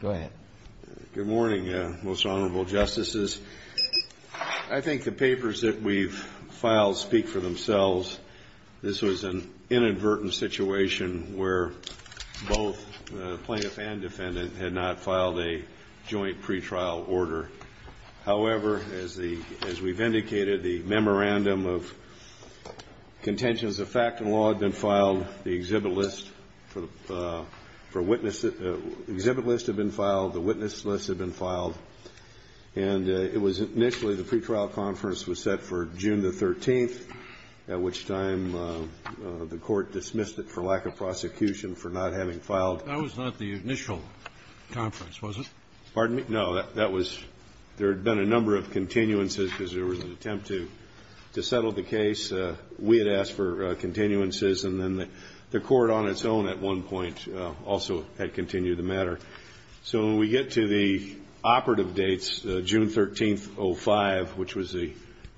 Good morning, Most Honorable Justices. I think the papers that we've filed speak for themselves. This was an inadvertent situation where both plaintiff and defendant had not filed a joint pretrial order. However, as we've indicated, the memorandum of contentions of fact and law had been filed. The exhibit list for witness exhibit lists have been filed. The witness lists have been filed. And it was initially the pretrial conference was set for June the 13th, at which time the court dismissed it for lack of prosecution for not having filed. That was not the initial conference, was it? Pardon me? No, that was there had been a number of continuances because there was an attempt to settle the case. We had asked for continuances, and then the court on its own at one point also had continued the matter. So when we get to the operative dates, June 13th, 2005, which was the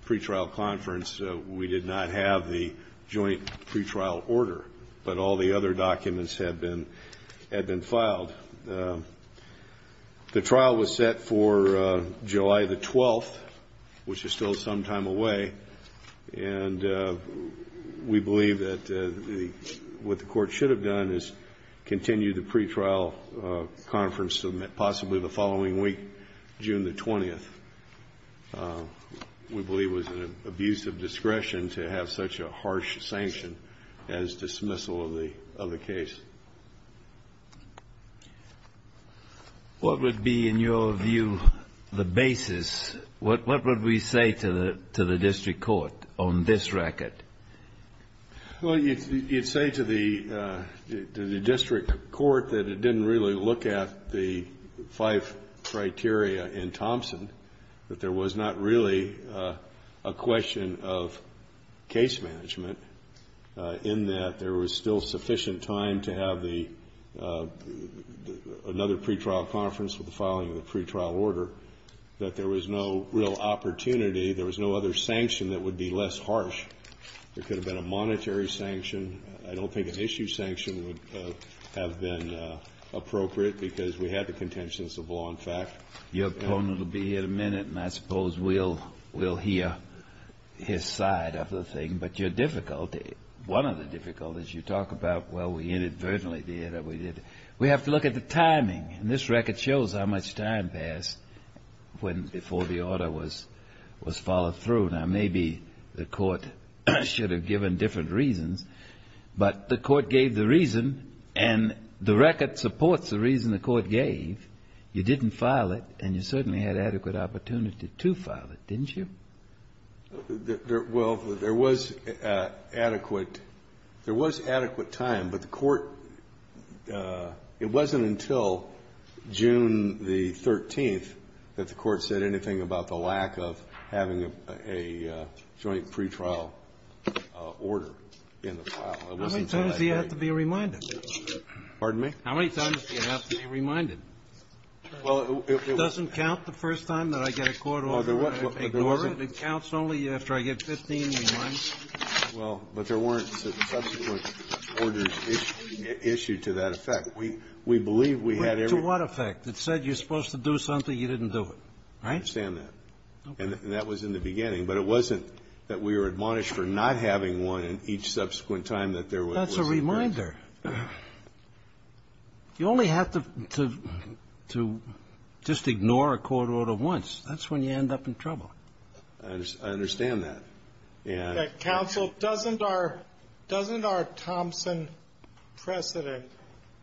pretrial conference, we did not have the joint pretrial order. But all the other documents had been filed. The trial was set for July the 12th, which is still some time away. And we believe that what the court should have done is continue the pretrial conference possibly the following week, June the 20th. We believe it was an abuse of discretion to have such a harsh sanction as dismissal of the case. What would be, in your view, the basis? What would we say to the district court on this record? Well, you'd say to the district court that it didn't really look at the five criteria in Thompson, that there was not really a question of case management, in that there was still sufficient time to have the another pretrial conference with the filing of the pretrial order, that there was no real opportunity, there was no other sanction that would be less harsh. There could have been a monetary sanction. I don't think an issue sanction would have been appropriate because we had the contentions of law and fact. Your opponent will be here in a minute, and I suppose we'll hear his side of the thing. But your difficulty, one of the difficulties you talk about, well, we inadvertently did it. We have to look at the timing, and this record shows how much time passed before the order was followed through. Now, maybe the court should have given different reasons, but the court gave the reason, and the record supports the reason the court gave. You didn't file it, and you certainly had adequate opportunity to file it, didn't you? Well, there was adequate time, but the court, it wasn't until June the 13th that the court said anything about the lack of having a joint pretrial order in the file. It wasn't until I heard you. How many times do you have to be reminded? Pardon me? How many times do you have to be reminded? It doesn't count the first time that I get a court order. It counts only after I get 15 reminders. Well, but there weren't subsequent orders issued to that effect. We believe we had every one. To what effect? It said you're supposed to do something. You didn't do it, right? I understand that. Okay. And that was in the beginning, but it wasn't that we were admonished for not having one in each subsequent time that there was. That's a reminder. You only have to just ignore a court order once. That's when you end up in trouble. I understand that. Counsel, doesn't our Thompson precedent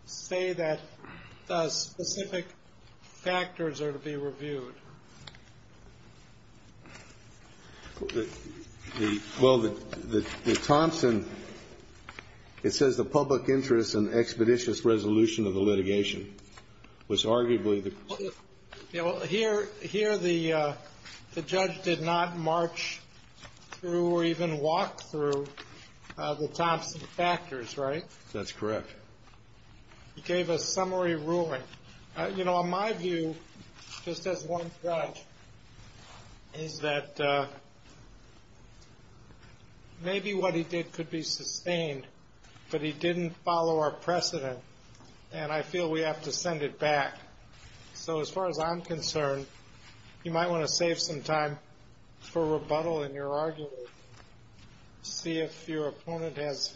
say that specific factors are to be reviewed? Well, the Thompson, it says the public interest and expeditious resolution of the litigation was arguably the. Here the judge did not march through or even walk through the Thompson factors, right? That's correct. He gave a summary ruling. You know, in my view, just as one judge, is that maybe what he did could be sustained, but he didn't follow our precedent, and I feel we have to send it back. So as far as I'm concerned, you might want to save some time for rebuttal in your argument, see if your opponent has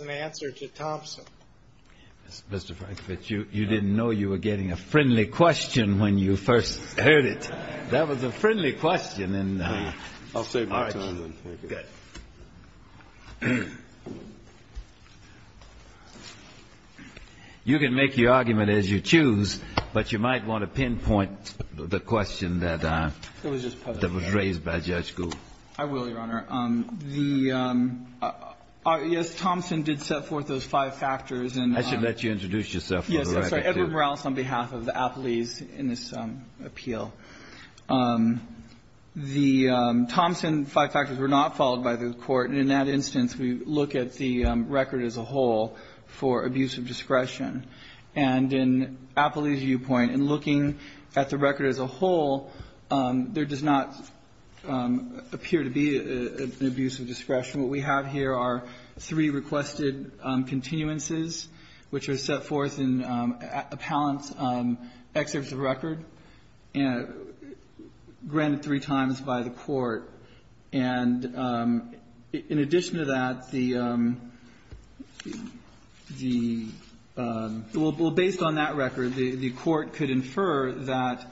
an answer to Thompson. Mr. Frankfurt, you didn't know you were getting a friendly question when you first heard it. That was a friendly question. I'll save my time then. Good. You can make your argument as you choose, but you might want to pinpoint the question that was raised by Judge Gould. I will, Your Honor. Yes, Thompson did set forth those five factors. I should let you introduce yourself. Yes, I'm sorry. Edward Morales on behalf of the appellees in this appeal. The Thompson five factors were not followed by the Court, and in that instance, we look at the record as a whole for abuse of discretion. And in appellee's viewpoint, in looking at the record as a whole, there does not appear to be an abuse of discretion. What we have here are three requested continuances, which are set forth in appellant's excerpts of record, granted three times by the Court. And in addition to that, the – well, based on that record, the Court could infer that,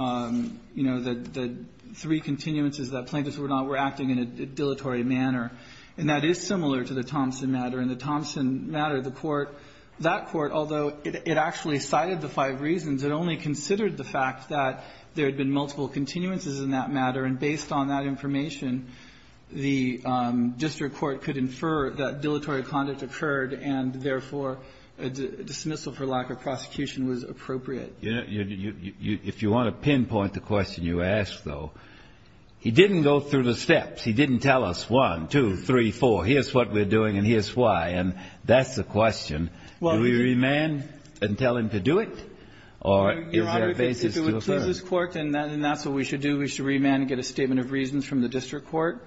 you know, the three continuances that plaintiffs were not – were acting in a dilatory manner. And that is similar to the Thompson matter. In the Thompson matter, the Court – that Court, although it actually cited the five reasons, it only considered the fact that there had been multiple continuances in that matter. And based on that information, the district court could infer that dilatory conduct occurred and, therefore, a dismissal for lack of prosecution was appropriate. If you want to pinpoint the question you ask, though, he didn't go through the steps. He didn't tell us one, two, three, four, here's what we're doing and here's why. And that's the question. Do we remand and tell him to do it? Or is there a basis to affirm? And so what we would do is we would have a record before the district court and that's what we should do. We should remand and get a statement of reasons from the district court.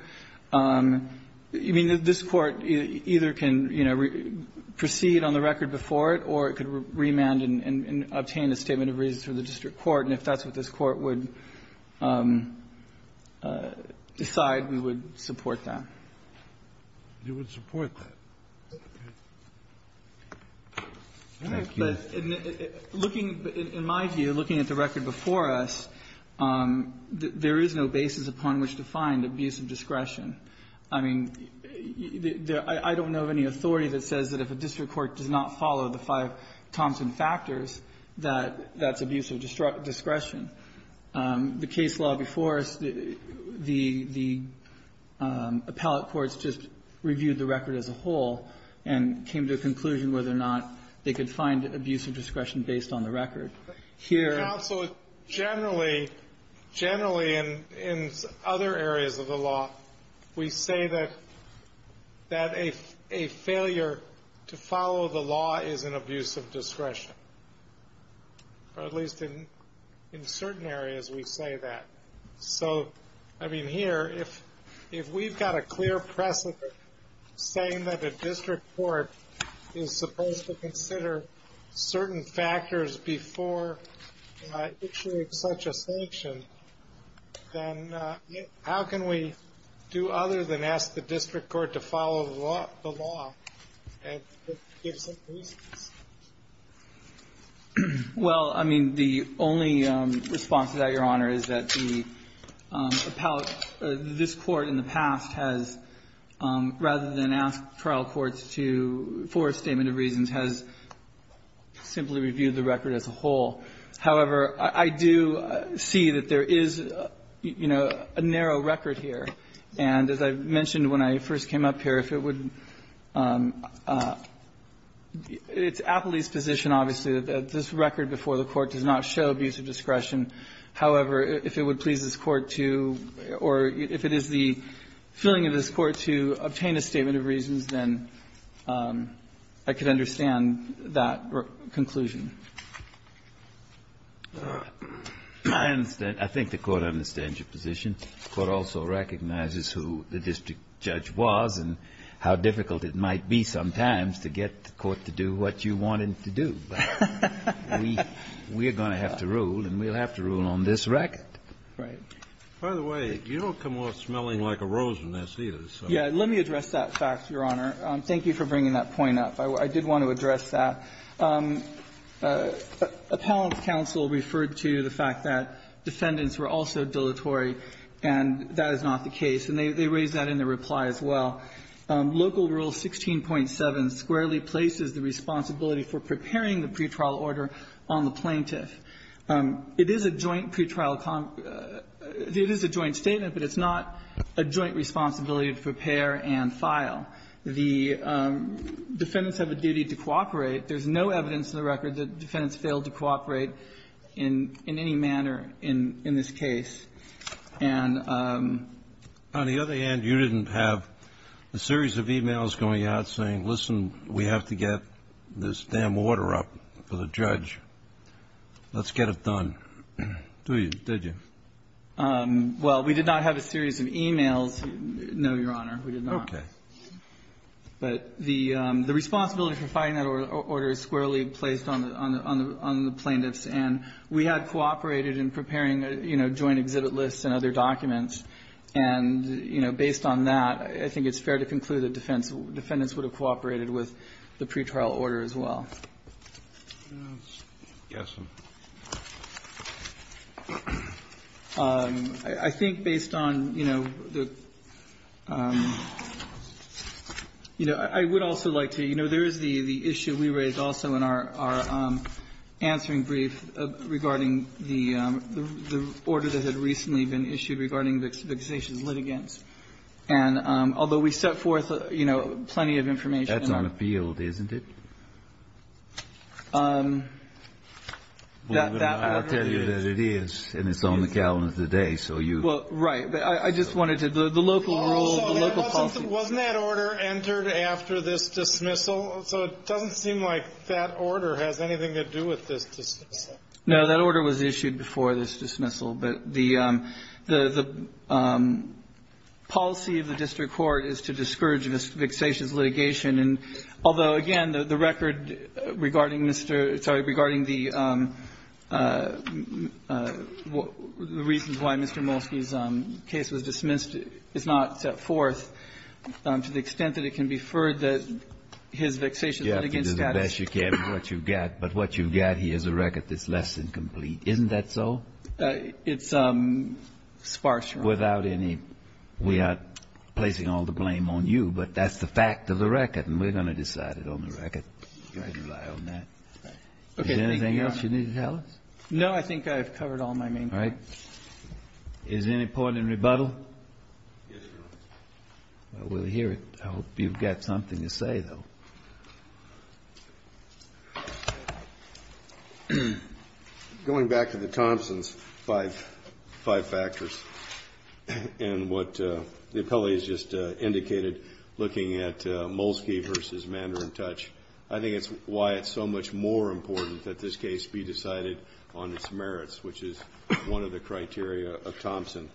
I mean, this Court either can, you know, proceed on the record before it or it could remand and obtain a statement of reasons from the district court. And if that's what this Court would decide, we would support that. We would support that. Thank you. But looking, in my view, looking at the record before us, there is no basis upon which to find abuse of discretion. I mean, I don't know of any authority that says that if a district court does not follow the five Thompson factors, that that's abuse of discretion. The case law before us, the appellate courts just reviewed the record as a whole and came to a conclusion whether or not they could find abuse of discretion based on the record. Here also, generally, generally in other areas of the law, we say that a failure to follow the law is an abuse of discretion, or at least in certain areas we say that. So, I mean, here, if we've got a clear precedent saying that a district court is supposed to consider certain factors before issuing such a sanction, then how can we do other than ask the district court to follow the law and give some reasons? Well, I mean, the only response to that, Your Honor, is that the appellate or this Court in the past has, rather than ask trial courts to for a statement of reasons, has simply reviewed the record as a whole. However, I do see that there is, you know, a narrow record here. And as I mentioned when I first came up here, if it would be, it's appellee's position, obviously, that this record before the Court does not show abuse of discretion. However, if it would please this Court to, or if it is the feeling of this Court to obtain a statement of reasons, then I could understand that conclusion. I understand. I think the Court understands your position. The Court also recognizes who the district judge was and how difficult it might be sometimes to get the Court to do what you want it to do. We are going to have to rule, and we'll have to rule on this record. Right. By the way, you don't come off smelling like a rosiness, either. Yeah. Let me address that fact, Your Honor. Thank you for bringing that point up. I did want to address that. Appellant's counsel referred to the fact that defendants were also dilatory, and that is not the case. And they raised that in their reply as well. Local Rule 16.7 squarely places the responsibility for preparing the pretrial order on the plaintiff. It is a joint pretrial, it is a joint statement, but it's not a joint responsibility to prepare and file. The defendants have a duty to cooperate. There's no evidence in the record that defendants failed to cooperate in any manner in this case. And the other hand, you didn't have a series of e-mails going out saying, listen, we have to get this damn order up for the judge. Let's get it done. Do you? Did you? Well, we did not have a series of e-mails, no, Your Honor. We did not. Okay. But the responsibility for filing that order is squarely placed on the plaintiffs. And we had cooperated in preparing, you know, joint exhibit lists and other documents. And, you know, based on that, I think it's fair to conclude that defendants would have cooperated with the pretrial order as well. Yes, sir. I think based on, you know, the you know, I would also like to, you know, there is the issue we raised also in our answering brief regarding the order that had recently been issued regarding the litigation's litigants. And although we set forth, you know, plenty of information. That's on the field, isn't it? I'll tell you that it is. And it's on the calendar today, so you. Well, right. But I just wanted to. The local rule, the local policy. Wasn't that order entered after this dismissal? So it doesn't seem like that order has anything to do with this dismissal. No, that order was issued before this dismissal. But the policy of the district court is to discourage fixation's litigation. And although, again, the record regarding Mr. Sorry, regarding the reasons why Mr. Molsky's case was dismissed is not set forth to the extent that it can be inferred that his fixation's litigation status. You have to do the best you can with what you've got. But what you've got here is a record that's less than complete. Isn't that so? It's sparse. Without any. We are placing all the blame on you. But that's the fact of the record. And we're going to decide it on the record. You can rely on that. Is there anything else you need to tell us? No, I think I've covered all my main points. All right. Is there any point in rebuttal? Yes, Your Honor. Well, we'll hear it. I hope you've got something to say, though. Going back to the Thompsons, five factors, and what the appellate has just indicated, looking at Molsky versus Mander and Touch, I think it's why it's so much more important that this case be decided on its merits, which is one of the criteria of Thompson.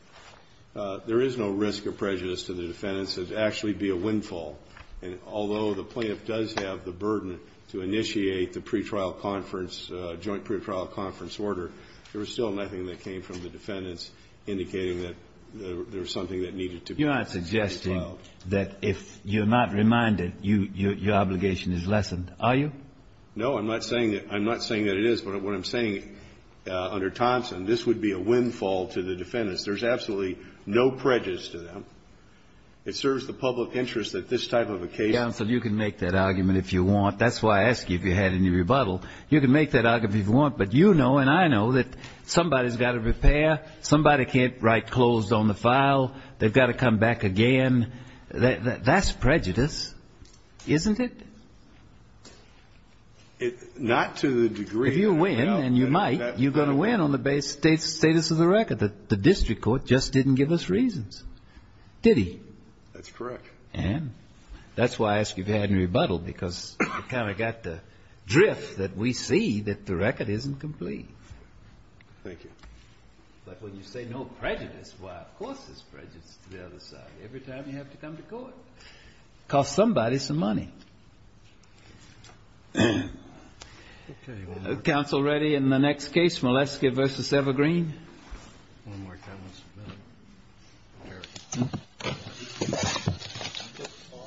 There is no risk of prejudice to the defendants. It would actually be a windfall. And although the plaintiff does have the burden to initiate the pre-trial conference, joint pre-trial conference order, there was still nothing that came from the defendants indicating that there was something that needed to be filed. You're not suggesting that if you're not reminded, your obligation is lessened, are you? No, I'm not saying that it is. But what I'm saying under Thompson, this would be a windfall to the defendants. There's absolutely no prejudice to them. It serves the public interest that this type of a case. Counsel, you can make that argument if you want. That's why I asked you if you had any rebuttal. You can make that argument if you want. But you know and I know that somebody's got to prepare. Somebody can't write closed on the file. They've got to come back again. That's prejudice, isn't it? Not to the degree. If you win, and you might, you're going to win on the status of the record. But the district court just didn't give us reasons. Did he? That's correct. And that's why I asked you if you had any rebuttal because you kind of got the drift that we see that the record isn't complete. Thank you. But when you say no prejudice, well, of course there's prejudice to the other side. Every time you have to come to court. It costs somebody some money. Okay. Counsel ready in the next case. Malesky v. Evergreen. One more time. Okay.